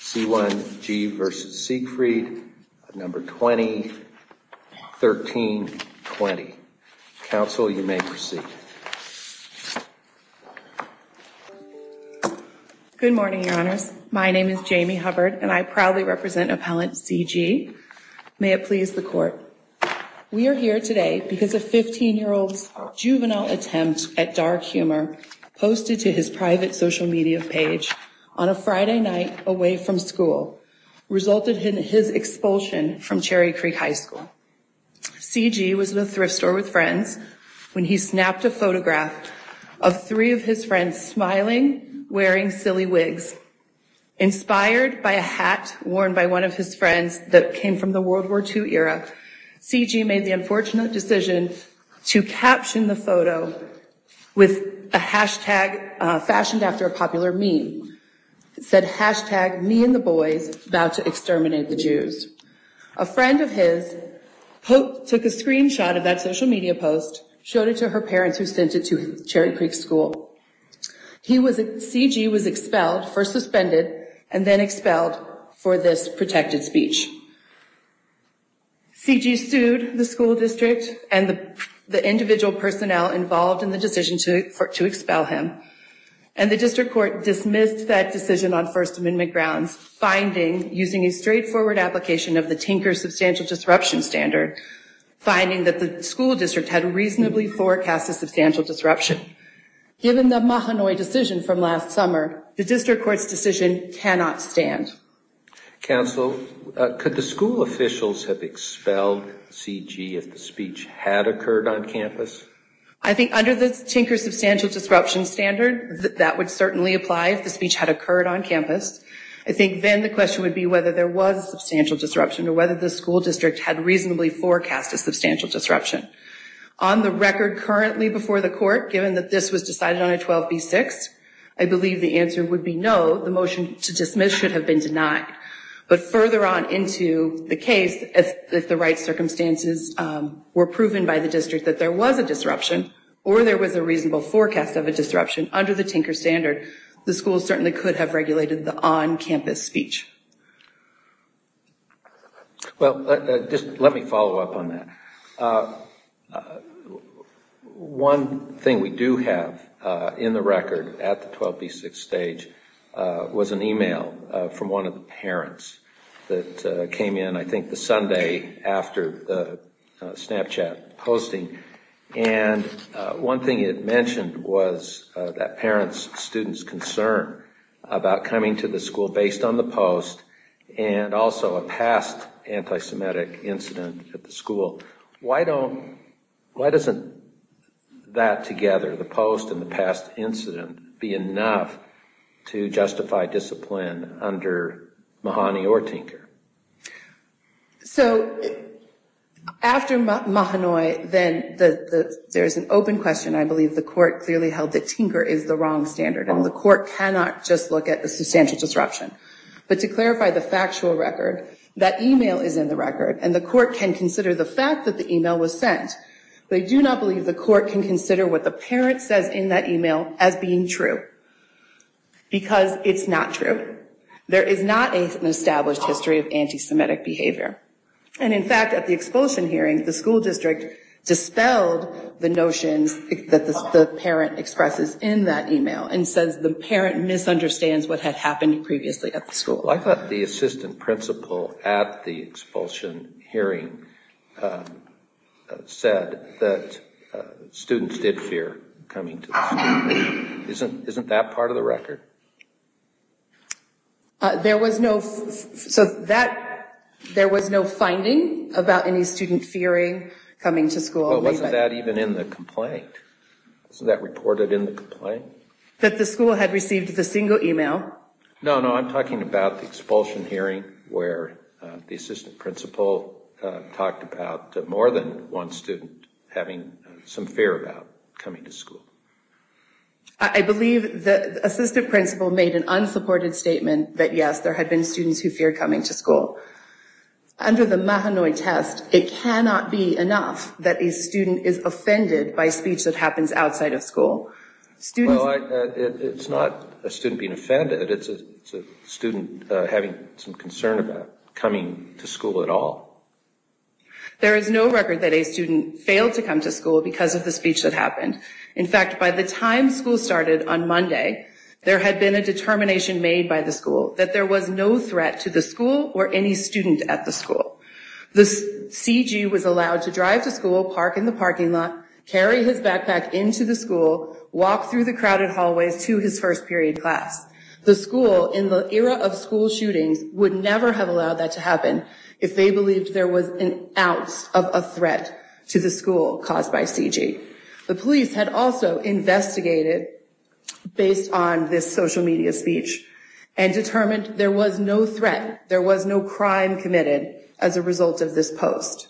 C1.G v. Siegfried, No. 201320. Counsel, you may proceed. Good morning, Your Honors. My name is Jamie Hubbard, and I proudly represent Appellant C.G. May it please the Court. We are here today because a 15-year-old's juvenile attempt at dark humor posted to his private social media page on a Friday night away from school resulted in his expulsion from Cherry Creek High School. C.G. was in a thrift store with friends when he snapped a photograph of three of his friends smiling, wearing silly wigs. Inspired by a hat worn by one of his friends that came from the World War II era, C.G. made the unfortunate decision to caption the photo with a hashtag fashioned after a popular meme. It said, hashtag me and the boys about to exterminate the Jews. A friend of his took a screenshot of that social media post, showed it to her parents who sent it to Cherry Creek School. C.G. was expelled, first suspended, and then expelled for this protected speech. C.G. sued the school district and the individual personnel involved in the decision to expel him, and the district court dismissed that decision on First Amendment grounds, finding, using a straightforward application of the Tinker Substantial Disruption Standard, finding that the school district had reasonably forecast a substantial disruption. Given the Mahanoy decision from last summer, the district court's decision cannot stand. Counsel, could the school officials have expelled C.G. if the speech had occurred on campus? I think under the Tinker Substantial Disruption Standard, that would certainly apply if the speech had occurred on campus. I think then the question would be whether there was substantial disruption or whether the school district had reasonably forecast a substantial disruption. On the record currently before the court, given that this was decided on a 12B6, I believe the answer would be no, the motion to dismiss should have been denied. But further on into the case, if the right circumstances were proven by the district that there was a disruption or there was a reasonable forecast of a disruption under the Tinker Standard, the school certainly could have regulated the on-campus speech. Well, just let me follow up on that. One thing we do have in the record at the 12B6 stage was an e-mail from one of the parents that came in I think the Sunday after the Snapchat posting. And one thing it mentioned was that parent's student's concern about coming to the school based on the post and also a past anti-Semitic incident at the school. Why doesn't that together, the post and the past incident, be enough to justify discipline under Mahoney or Tinker? So after Mahoney, then there's an open question. I believe the court clearly held that Tinker is the wrong standard, and the court cannot just look at the substantial disruption. But to clarify the factual record, that e-mail is in the record, and the court can consider the fact that the e-mail was sent. But I do not believe the court can consider what the parent says in that e-mail as being true. Because it's not true. There is not an established history of anti-Semitic behavior. And in fact, at the expulsion hearing, the school district dispelled the notions that the parent expresses in that e-mail and says the parent misunderstands what had happened previously at the school. I thought the assistant principal at the expulsion hearing said that students did fear coming to the school. Isn't that part of the record? There was no finding about any student fearing coming to school. Well, wasn't that even in the complaint? Wasn't that reported in the complaint? That the school had received the single e-mail. No, no, I'm talking about the expulsion hearing, where the assistant principal talked about more than one student having some fear about coming to school. I believe the assistant principal made an unsupported statement that, yes, there had been students who feared coming to school. Under the Mahanoy test, it cannot be enough that a student is offended by speech that happens outside of school. Well, it's not a student being offended. It's a student having some concern about coming to school at all. There is no record that a student failed to come to school because of the speech that happened. In fact, by the time school started on Monday, there had been a determination made by the school that there was no threat to the school or any student at the school. The CG was allowed to drive to school, park in the parking lot, carry his backpack into the school, walk through the crowded hallways to his first period class. The school, in the era of school shootings, would never have allowed that to happen if they believed there was an ounce of a threat to the school caused by CG. The police had also investigated, based on this social media speech, and determined there was no threat, there was no crime committed as a result of this post.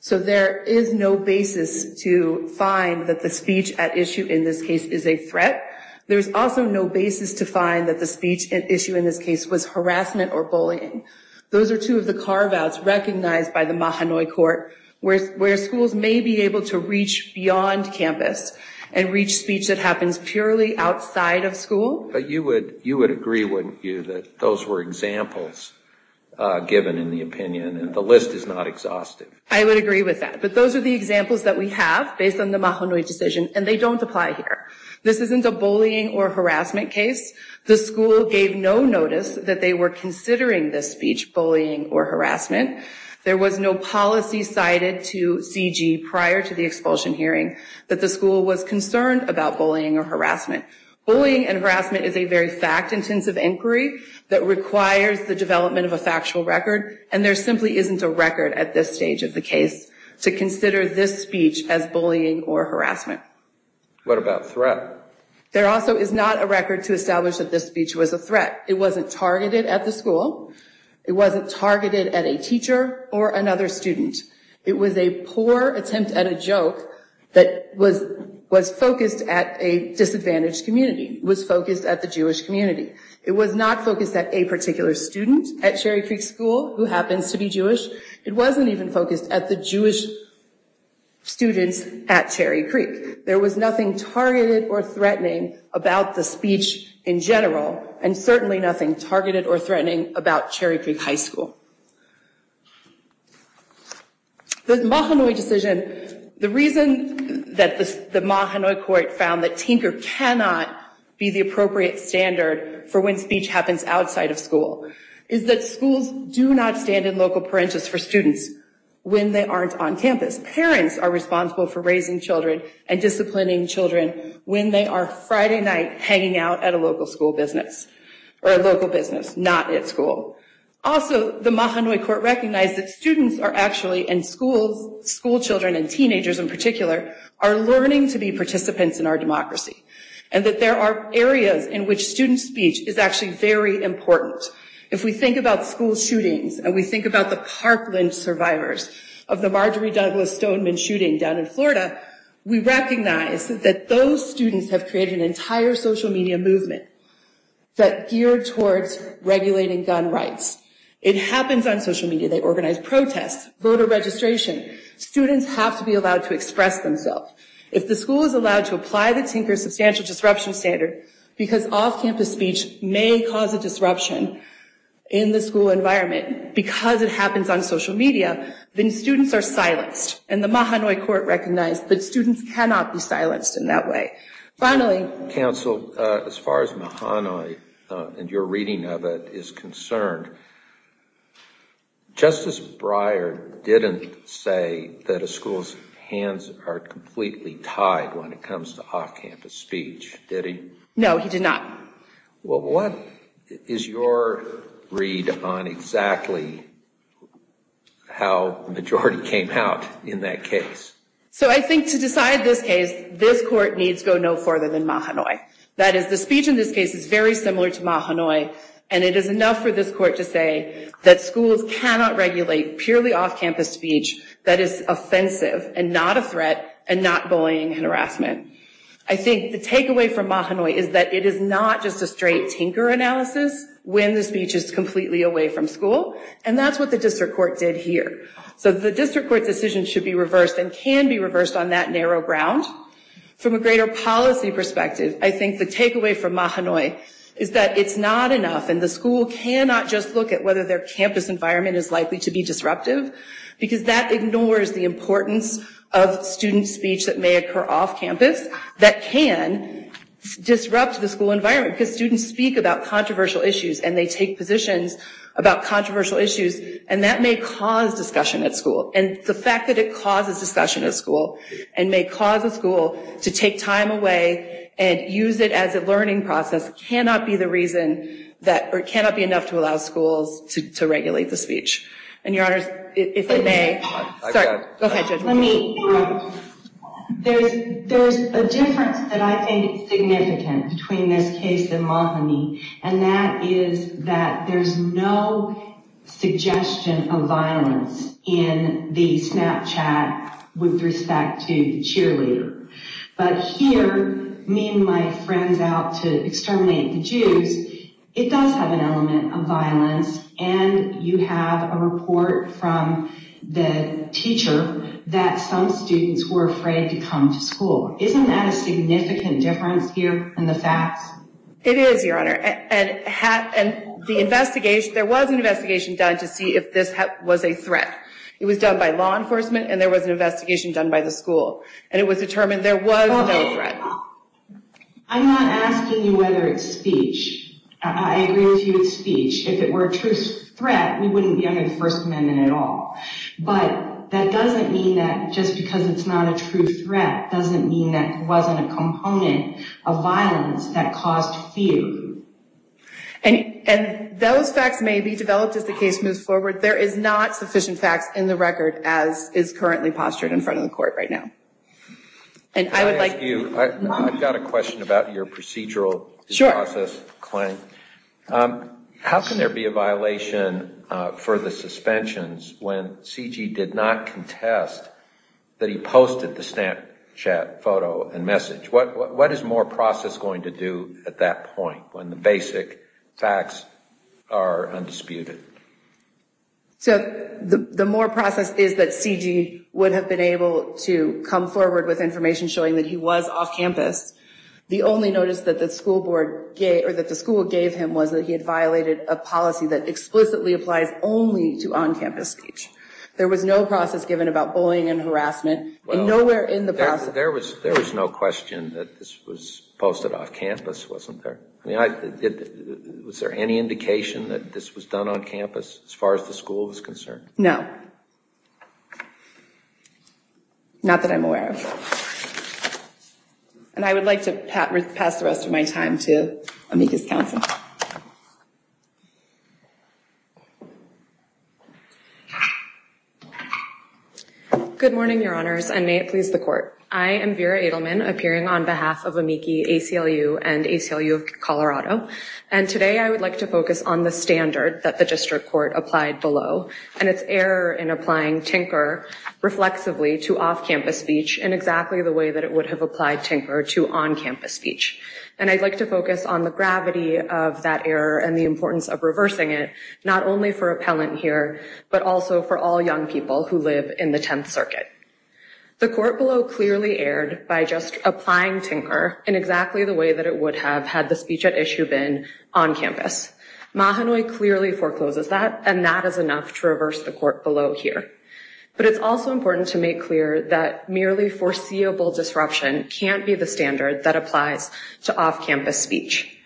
So there is no basis to find that the speech at issue in this case is a threat. There is also no basis to find that the speech at issue in this case was harassment or bullying. Those are two of the carve-outs recognized by the Mahanoy Court, where schools may be able to reach beyond campus and reach speech that happens purely outside of school. But you would agree, wouldn't you, that those were examples given in the opinion, and the list is not exhaustive? I would agree with that. But those are the examples that we have based on the Mahanoy decision, and they don't apply here. This isn't a bullying or harassment case. The school gave no notice that they were considering this speech bullying or harassment. There was no policy cited to CG prior to the expulsion hearing that the school was concerned about bullying or harassment. Bullying and harassment is a very fact-intensive inquiry that requires the development of a factual record, and there simply isn't a record at this stage of the case to consider this speech as bullying or harassment. What about threat? There also is not a record to establish that this speech was a threat. It wasn't targeted at the school. It wasn't targeted at a teacher or another student. It was a poor attempt at a joke that was focused at a disadvantaged community, was focused at the Jewish community. It was not focused at a particular student at Cherry Creek School who happens to be Jewish. It wasn't even focused at the Jewish students at Cherry Creek. There was nothing targeted or threatening about the speech in general, and certainly nothing targeted or threatening about Cherry Creek High School. The Mahanoy decision, the reason that the Mahanoy court found that tinker cannot be the appropriate standard for when speech happens outside of school is that schools do not stand in local parenthesis for students when they aren't on campus. Parents are responsible for raising children and disciplining children when they are Friday night hanging out at a local school business, or a local business, not at school. Also, the Mahanoy court recognized that students are actually, and school children and teenagers in particular, are learning to be participants in our democracy, and that there are areas in which student speech is actually very important. If we think about school shootings, and we think about the Parkland survivors of the Marjorie Douglas Stoneman shooting down in Florida, we recognize that those students have created an entire social media movement that geared towards regulating gun rights. It happens on social media. They organize protests, voter registration. Students have to be allowed to express themselves. If the school is allowed to apply the tinker substantial disruption standard, because off-campus speech may cause a disruption in the school environment because it happens on social media, then students are silenced. And the Mahanoy court recognized that students cannot be silenced in that way. Finally... Counsel, as far as Mahanoy and your reading of it is concerned, Justice Breyer didn't say that a school's hands are completely tied when it comes to off-campus speech, did he? No, he did not. What is your read on exactly how the majority came out in that case? So I think to decide this case, this court needs to go no further than Mahanoy. That is, the speech in this case is very similar to Mahanoy, and it is enough for this court to say that schools cannot regulate purely off-campus speech that is offensive and not a threat and not bullying and harassment. I think the takeaway from Mahanoy is that it is not just a straight tinker analysis when the speech is completely away from school, and that's what the district court did here. So the district court's decision should be reversed and can be reversed on that narrow ground. From a greater policy perspective, I think the takeaway from Mahanoy is that it's not enough and the school cannot just look at whether their campus environment is likely to be disruptive because that ignores the importance of student speech that may occur off-campus that can disrupt the school environment because students speak about controversial issues and they take positions about controversial issues and that may cause discussion at school. And the fact that it causes discussion at school and may cause a school to take time away and use it as a learning process cannot be enough to allow schools to regulate the speech. There's a difference that I think is significant between this case and Mahanoy, and that is that there's no suggestion of violence in the Snapchat with respect to the cheerleader. But here, me and my friends out to exterminate the Jews, it does have an element of violence and you have a report from the teacher that some students were afraid to come to school. Isn't that a significant difference here in the facts? It is, Your Honor, and there was an investigation done to see if this was a threat. It was done by law enforcement and there was an investigation done by the school and it was determined there was no threat. I'm not asking you whether it's speech. I agree with you it's speech. If it were a true threat, we wouldn't be under the First Amendment at all. But that doesn't mean that just because it's not a true threat doesn't mean that it wasn't a component of violence that caused fear. And those facts may be developed as the case moves forward. There is not sufficient facts in the record as is currently postured in front of the court right now. Can I ask you, I've got a question about your procedural process claim. How can there be a violation for the suspensions when C.G. did not contest that he posted the Snapchat photo and message? What is more process going to do at that point when the basic facts are undisputed? So the more process is that C.G. would have been able to come forward with information showing that he was off campus. The only notice that the school gave him was that he had violated a policy that explicitly applies only to on-campus speech. There was no process given about bullying and harassment and nowhere in the process... There was no question that this was posted off campus, wasn't there? Was there any indication that this was done on campus as far as the school was concerned? No. Not that I'm aware of. And I would like to pass the rest of my time to Amiki's counsel. Good morning, your honors, and may it please the court. I am Vera Edelman, appearing on behalf of Amiki, ACLU, and ACLU of Colorado. And today I would like to focus on the standard that the district court applied below and its error in applying tinker reflexively to off-campus speech in exactly the way that it would have applied tinker to on-campus speech. And I'd like to focus on the gravity of that error and the importance of reversing it, not only for appellant here, but also for all young people who live in the Tenth Circuit. The court below clearly erred by just applying tinker in exactly the way that it would have had the speech at issue been on campus. Mahanoy clearly forecloses that, and that is enough to reverse the court below here. But it's also important to make clear that merely foreseeable disruption can't be the standard that applies to off-campus speech.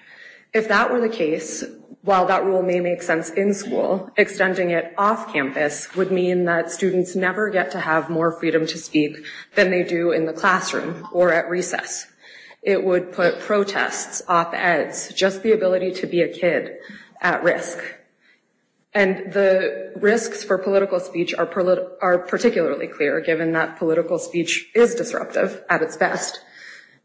If that were the case, while that rule may make sense in school, extending it off-campus would mean that students never get to have more freedom to speak than they do in the classroom or at recess. It would put protests, op-eds, just the ability to be a kid at risk. And the risks for political speech are particularly clear given that political speech is disruptive at its best.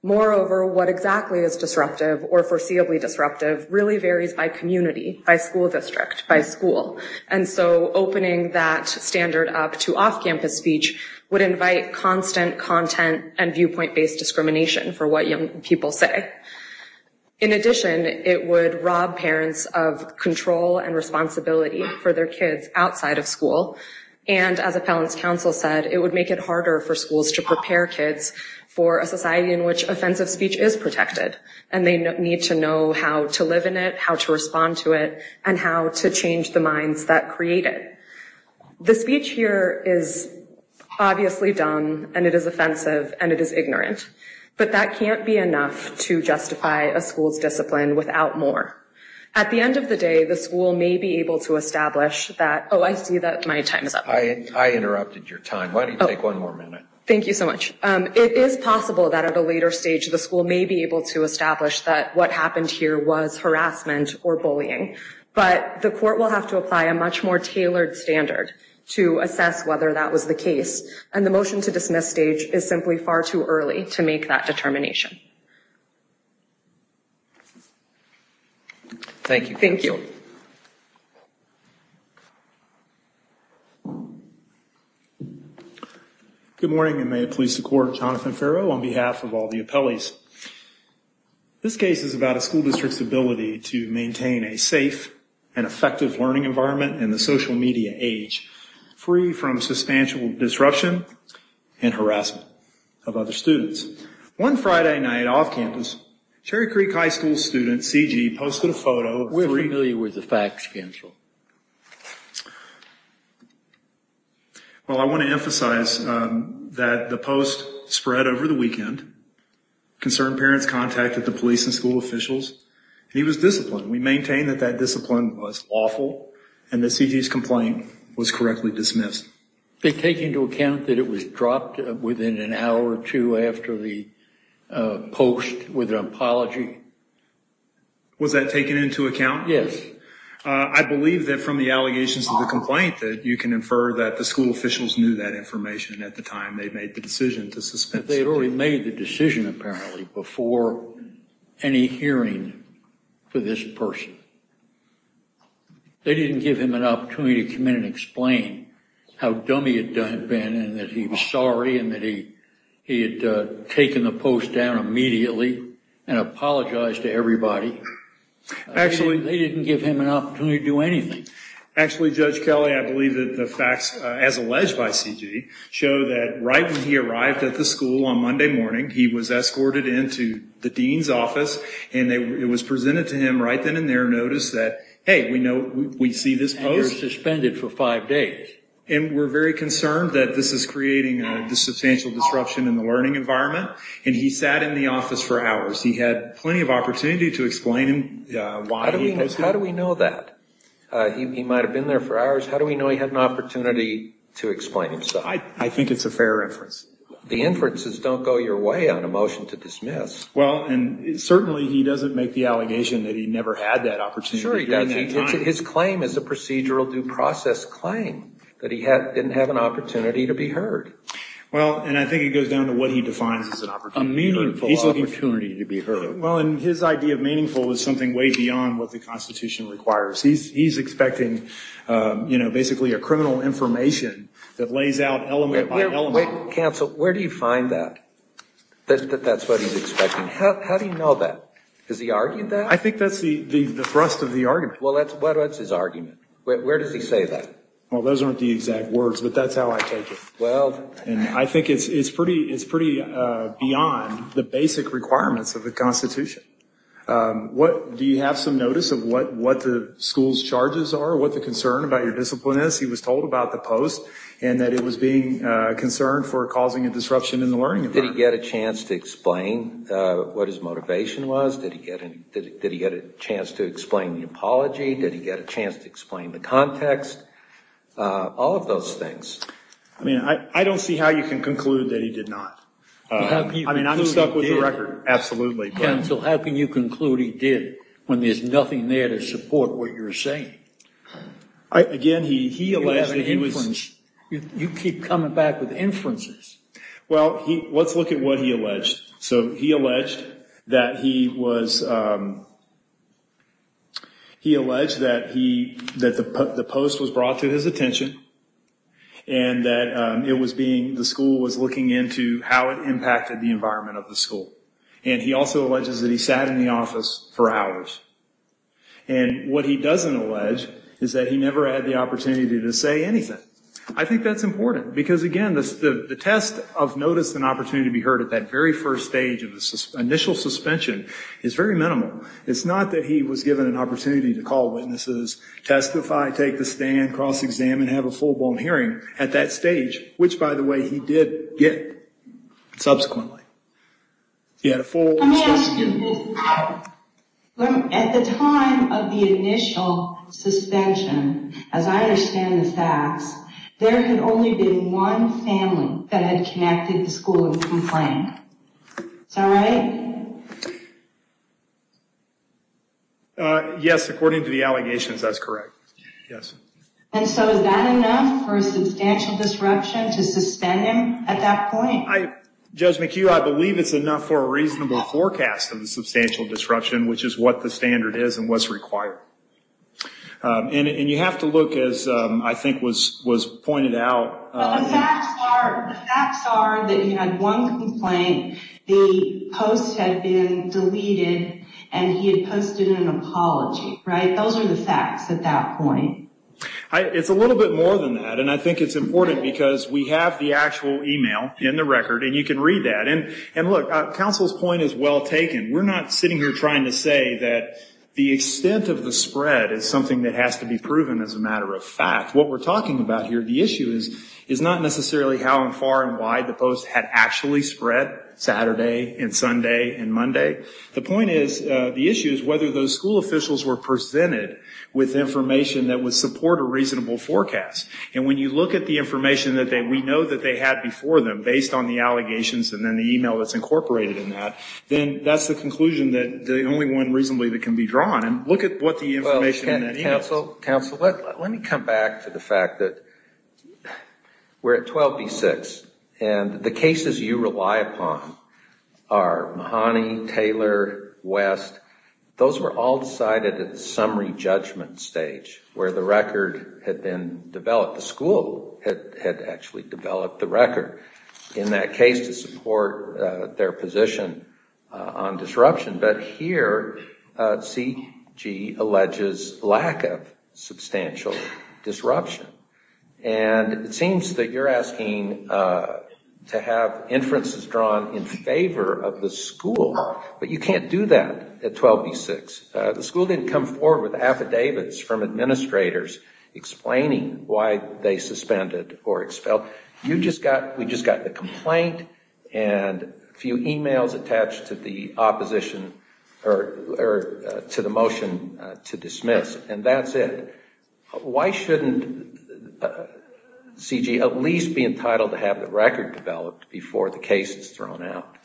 Moreover, what exactly is disruptive or foreseeably disruptive really varies by community, by school district, by school. And so opening that standard up to off-campus speech would invite constant content and viewpoint-based discrimination for what young people say. In addition, it would rob parents of control and responsibility for their kids outside of school. And as appellants' counsel said, it would make it harder for schools to prepare kids for a society in which offensive speech is protected, and they need to know how to live in it, how to respond to it, and how to change the minds that create it. The speech here is obviously dumb, and it is offensive, and it is ignorant. But that can't be enough to justify a school's discipline without more. At the end of the day, the school may be able to establish that Oh, I see that my time is up. I interrupted your time. Why don't you take one more minute? Thank you so much. It is possible that at a later stage the school may be able to establish that what happened here was harassment or bullying. But the court will have to apply a much more tailored standard to assess whether that was the case. And the motion to dismiss stage is simply far too early to make that determination. Thank you. Thank you. Thank you. Good morning, and may it please the Court, Jonathan Farrow on behalf of all the appellees. This case is about a school district's ability to maintain a safe and effective learning environment in the social media age, free from substantial disruption and harassment of other students. One Friday night off campus, Cherry Creek High School student CG posted a photo We're familiar with the facts, Counsel. Well, I want to emphasize that the post spread over the weekend. Concerned parents contacted the police and school officials. He was disciplined. We maintain that that discipline was lawful, and that CG's complaint was correctly dismissed. Did it take into account that it was dropped within an hour or two after the post with an apology? Was that taken into account? Yes. I believe that from the allegations of the complaint that you can infer that the school officials knew that information at the time they made the decision to suspend. They had already made the decision, apparently, before any hearing for this person. They didn't give him an opportunity to come in and explain how dumb he had been and that he was sorry and that he had taken the post down immediately. And apologized to everybody. They didn't give him an opportunity to do anything. Actually, Judge Kelly, I believe that the facts, as alleged by CG, show that right when he arrived at the school on Monday morning, he was escorted into the dean's office, and it was presented to him right then and there, notice that, hey, we see this post. And you're suspended for five days. And we're very concerned that this is creating a substantial disruption in the learning environment. And he sat in the office for hours. He had plenty of opportunity to explain why he posted it. How do we know that? He might have been there for hours. How do we know he had an opportunity to explain himself? I think it's a fair inference. The inferences don't go your way on a motion to dismiss. Well, and certainly he doesn't make the allegation that he never had that opportunity. Sure he does. His claim is a procedural due process claim, that he didn't have an opportunity to be heard. Well, and I think it goes down to what he defines as an opportunity. A meaningful opportunity to be heard. Well, and his idea of meaningful is something way beyond what the Constitution requires. He's expecting, you know, basically a criminal information that lays out element by element. Wait, counsel, where do you find that, that that's what he's expecting? How do you know that? Has he argued that? I think that's the thrust of the argument. Well, that's his argument. Where does he say that? Well, those aren't the exact words, but that's how I take it. Well, and I think it's pretty beyond the basic requirements of the Constitution. Do you have some notice of what the school's charges are, what the concern about your discipline is? He was told about the post and that it was being concerned for causing a disruption in the learning environment. Did he get a chance to explain what his motivation was? Did he get a chance to explain the apology? Did he get a chance to explain the context? All of those things. I mean, I don't see how you can conclude that he did not. I mean, I'm stuck with the record. Absolutely. Counsel, how can you conclude he did when there's nothing there to support what you're saying? Again, he alleged that he was. You keep coming back with inferences. Well, let's look at what he alleged. So he alleged that he was. He alleged that he that the post was brought to his attention and that it was being the school was looking into how it impacted the environment of the school. And he also alleges that he sat in the office for hours. And what he doesn't allege is that he never had the opportunity to say anything. I think that's important because, again, the test of notice and opportunity to be heard at that very first stage of the initial suspension is very minimal. It's not that he was given an opportunity to call witnesses, testify, take the stand, cross-examine, have a full-blown hearing at that stage, which, by the way, he did get subsequently. Let me ask you this. At the time of the initial suspension, as I understand the facts, there had only been one family that had connected the school and complained. Is that right? Yes, according to the allegations, that's correct. And so is that enough for a substantial disruption to suspend him at that point? Judge McHugh, I believe it's enough for a reasonable forecast of the substantial disruption, which is what the standard is and what's required. And you have to look, as I think was pointed out. The facts are that he had one complaint, the post had been deleted, and he had posted an apology, right? Those are the facts at that point. It's a little bit more than that, and I think it's important because we have the actual email in the record, and you can read that. And look, counsel's point is well taken. We're not sitting here trying to say that the extent of the spread is something that has to be proven as a matter of fact. What we're talking about here, the issue is not necessarily how far and wide the post had actually spread Saturday and Sunday and Monday. The point is, the issue is whether those school officials were presented with information that would support a reasonable forecast. And when you look at the information that we know that they had before them based on the allegations and then the email that's incorporated in that, then that's the conclusion that the only one reasonably that can be drawn. And look at what the information in that email is. Counsel, counsel, let me come back to the fact that we're at 12 v. 6, and the cases you rely upon are Mahoney, Taylor, West. Those were all decided at the summary judgment stage where the record had been developed. The school had actually developed the record in that case to support their position on disruption. But here, C.G. alleges lack of substantial disruption. And it seems that you're asking to have inferences drawn in favor of the school, but you can't do that at 12 v. 6. The school didn't come forward with affidavits from administrators explaining why they suspended or expelled. You just got, we just got the complaint and a few emails attached to the opposition or to the motion to dismiss, and that's it. Why shouldn't C.G. at least be entitled to have the record developed before the case is thrown out?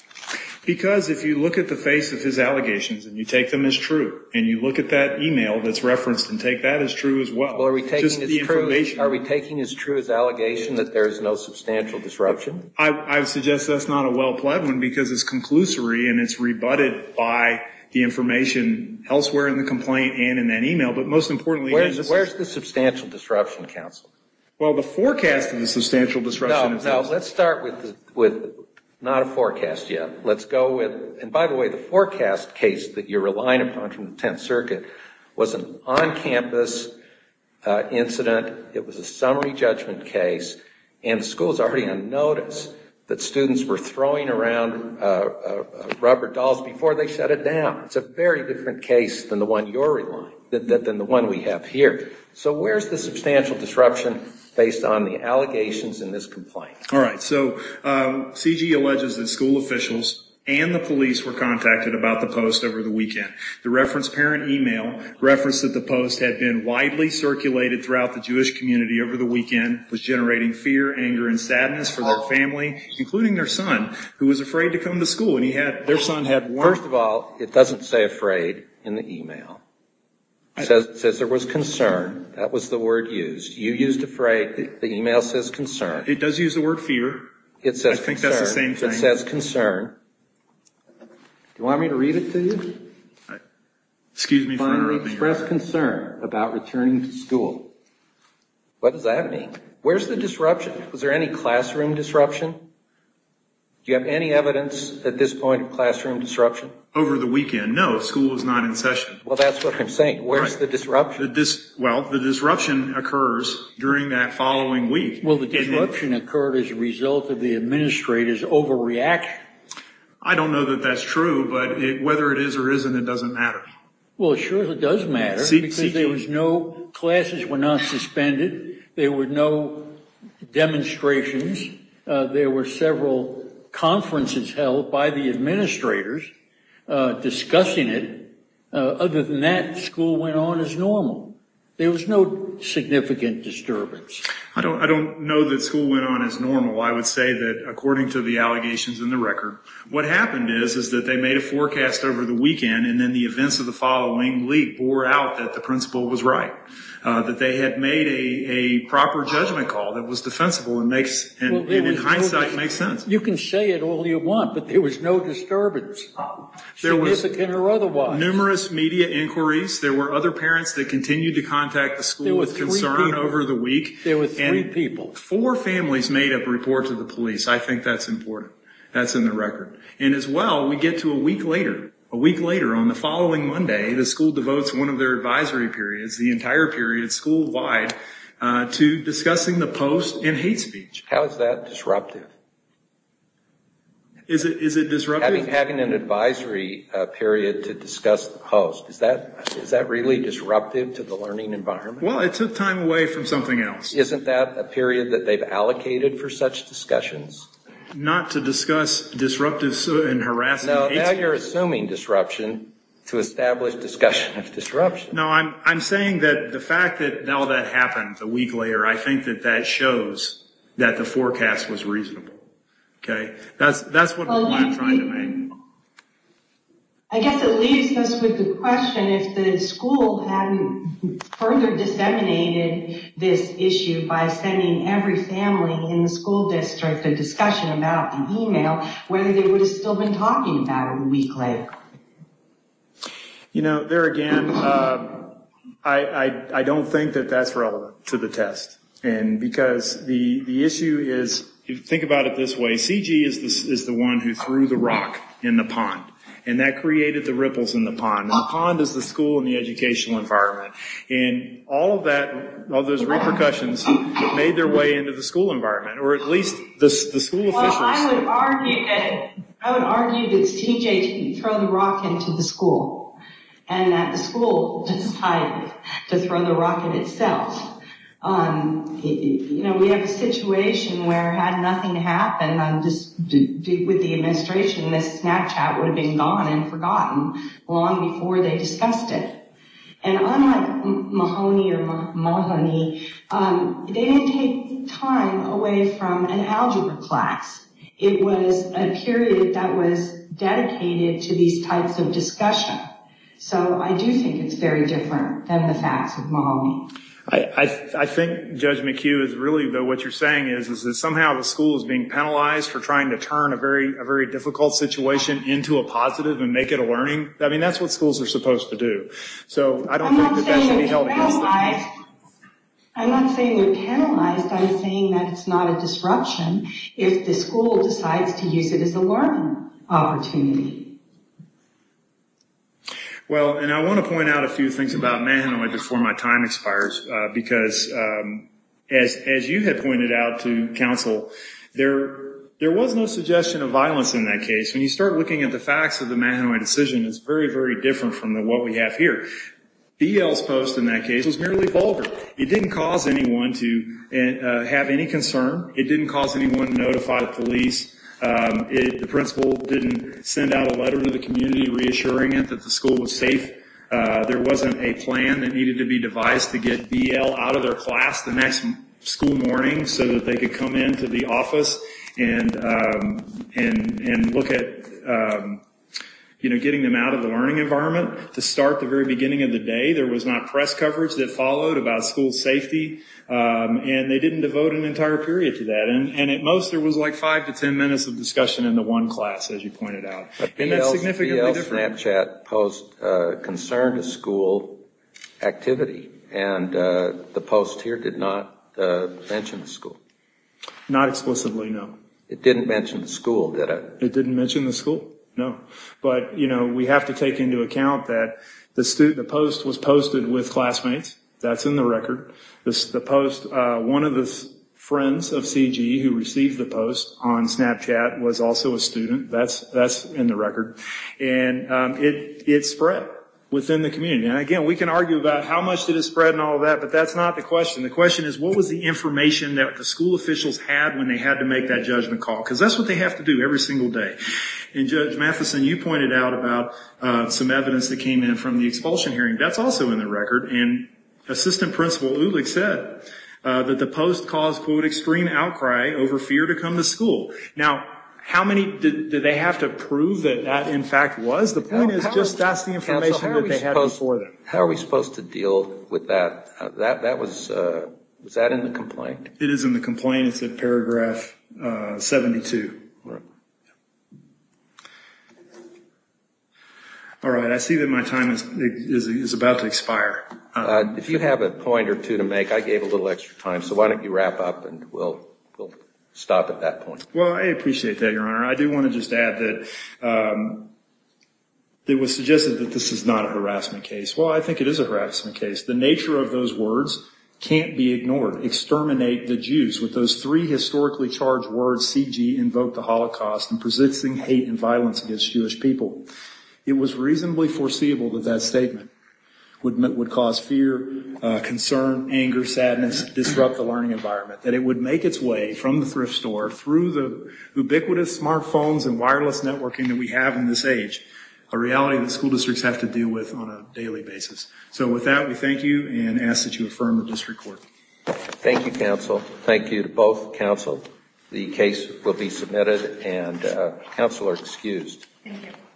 Because if you look at the face of his allegations and you take them as true, and you look at that email that's referenced and take that as true as well, are we taking as true as allegation that there is no substantial disruption? I would suggest that's not a well-pledged one because it's conclusory and it's rebutted by the information elsewhere in the complaint and in that email. But most importantly, where's the substantial disruption, counsel? Well, the forecast of the substantial disruption. No, let's start with not a forecast yet. And by the way, the forecast case that you're relying upon from the Tenth Circuit was an on-campus incident. It was a summary judgment case, and the school's already on notice that students were throwing around rubber dolls before they shut it down. It's a very different case than the one you're relying, than the one we have here. So where's the substantial disruption based on the allegations in this complaint? All right, so CG alleges that school officials and the police were contacted about the post over the weekend. The reference parent email referenced that the post had been widely circulated throughout the Jewish community over the weekend, was generating fear, anger, and sadness for their family, including their son, who was afraid to come to school. First of all, it doesn't say afraid in the email. It says there was concern. That was the word used. You used afraid. The email says concern. It does use the word fear. It says concern. I think that's the same thing. It says concern. Do you want me to read it to you? Excuse me for interrupting you. Finally expressed concern about returning to school. What does that mean? Where's the disruption? Was there any classroom disruption? Do you have any evidence at this point of classroom disruption? Over the weekend? No, school was not in session. Well, that's what I'm saying. Where's the disruption? Well, the disruption occurs during that following week. Well, the disruption occurred as a result of the administrator's overreaction. I don't know that that's true, but whether it is or isn't, it doesn't matter. Well, sure it does matter because there was no classes were not suspended. There were no demonstrations. There were several conferences held by the administrators discussing it. Other than that, school went on as normal. There was no significant disturbance. I don't know that school went on as normal. I would say that, according to the allegations in the record, what happened is that they made a forecast over the weekend, and then the events of the following week bore out that the principal was right, that they had made a proper judgment call that was defensible and, in hindsight, makes sense. You can say it all you want, but there was no disturbance, significant or otherwise. There were numerous media inquiries. There were other parents that continued to contact the school with concern over the week. There were three people. Four families made a report to the police. I think that's important. That's in the record. And, as well, we get to a week later. A week later, on the following Monday, the school devotes one of their advisory periods, the entire period school-wide, to discussing the post and hate speech. How is that disruptive? Is it disruptive? Having an advisory period to discuss the post, is that really disruptive to the learning environment? Well, it took time away from something else. Isn't that a period that they've allocated for such discussions? Not to discuss disruptive and harassment. No, now you're assuming disruption to establish discussion of disruption. No, I'm saying that the fact that all that happened a week later, I think that that shows that the forecast was reasonable. Okay, that's what I'm trying to make. I guess it leaves us with the question if the school hadn't further disseminated this issue by sending every family in the school district a discussion about the email, whether they would have still been talking about it a week later. You know, there again, I don't think that that's relevant to the test. Because the issue is, think about it this way, C.G. is the one who threw the rock in the pond, and that created the ripples in the pond. The pond is the school and the educational environment. And all of those repercussions made their way into the school environment, or at least the school officials. Well, I would argue that C.J. threw the rock into the school, and that the school decided to throw the rock in itself. You know, we have a situation where had nothing happened with the administration, this Snapchat would have been gone and forgotten long before they discussed it. And unlike Mahoney, they didn't take time away from an algebra class. It was a period that was dedicated to these types of discussion. So I do think it's very different than the facts of Mahoney. I think, Judge McHugh, really what you're saying is, is that somehow the school is being penalized for trying to turn a very difficult situation into a positive and make it a learning. I mean, that's what schools are supposed to do. So I don't think that that should be held against them. I'm not saying they're penalized. I'm saying that it's not a disruption if the school decides to use it as a learning opportunity. Well, and I want to point out a few things about Mahoney before my time expires, because as you had pointed out to counsel, there was no suggestion of violence in that case. When you start looking at the facts of the Mahoney decision, it's very, very different from what we have here. BL's post in that case was merely vulgar. It didn't cause anyone to have any concern. It didn't cause anyone to notify the police. The principal didn't send out a letter to the community reassuring it that the school was safe. There wasn't a plan that needed to be devised to get BL out of their class the next school morning so that they could come into the office and look at getting them out of the learning environment. To start, the very beginning of the day, there was not press coverage that followed about school safety, and they didn't devote an entire period to that. And at most, there was like five to ten minutes of discussion in the one class, as you pointed out. And that's significantly different. BL's Snapchat post concerned a school activity, and the post here did not mention the school. Not explicitly, no. It didn't mention the school, did it? It didn't mention the school, no. But, you know, we have to take into account that the post was posted with classmates. That's in the record. One of the friends of CG who received the post on Snapchat was also a student. That's in the record. And it spread within the community. And again, we can argue about how much did it spread and all of that, but that's not the question. The question is, what was the information that the school officials had when they had to make that judgment call? Because that's what they have to do every single day. And Judge Matheson, you pointed out about some evidence that came in from the expulsion hearing. That's also in the record. And Assistant Principal Ulich said that the post caused, quote, extreme outcry over fear to come to school. Now, how many did they have to prove that that, in fact, was? The point is just that's the information that they had before that. How are we supposed to deal with that? Was that in the complaint? It is in the complaint. It's in paragraph 72. All right, I see that my time is about to expire. If you have a point or two to make, I gave a little extra time, so why don't you wrap up and we'll stop at that point. Well, I appreciate that, Your Honor. I do want to just add that it was suggested that this is not a harassment case. Well, I think it is a harassment case. The nature of those words can't be ignored. Exterminate the Jews. With those three historically charged words, C.G. invoked the Holocaust and presenting hate and violence against Jewish people. It was reasonably foreseeable that that statement would cause fear, concern, anger, sadness, disrupt the learning environment, that it would make its way from the thrift store through the ubiquitous smartphones and wireless networking that we have in this age, a reality that school districts have to deal with on a daily basis. So with that, we thank you and ask that you affirm the district court. Thank you, counsel. Thank you to both counsel. The case will be submitted and counsel are excused. Thank you.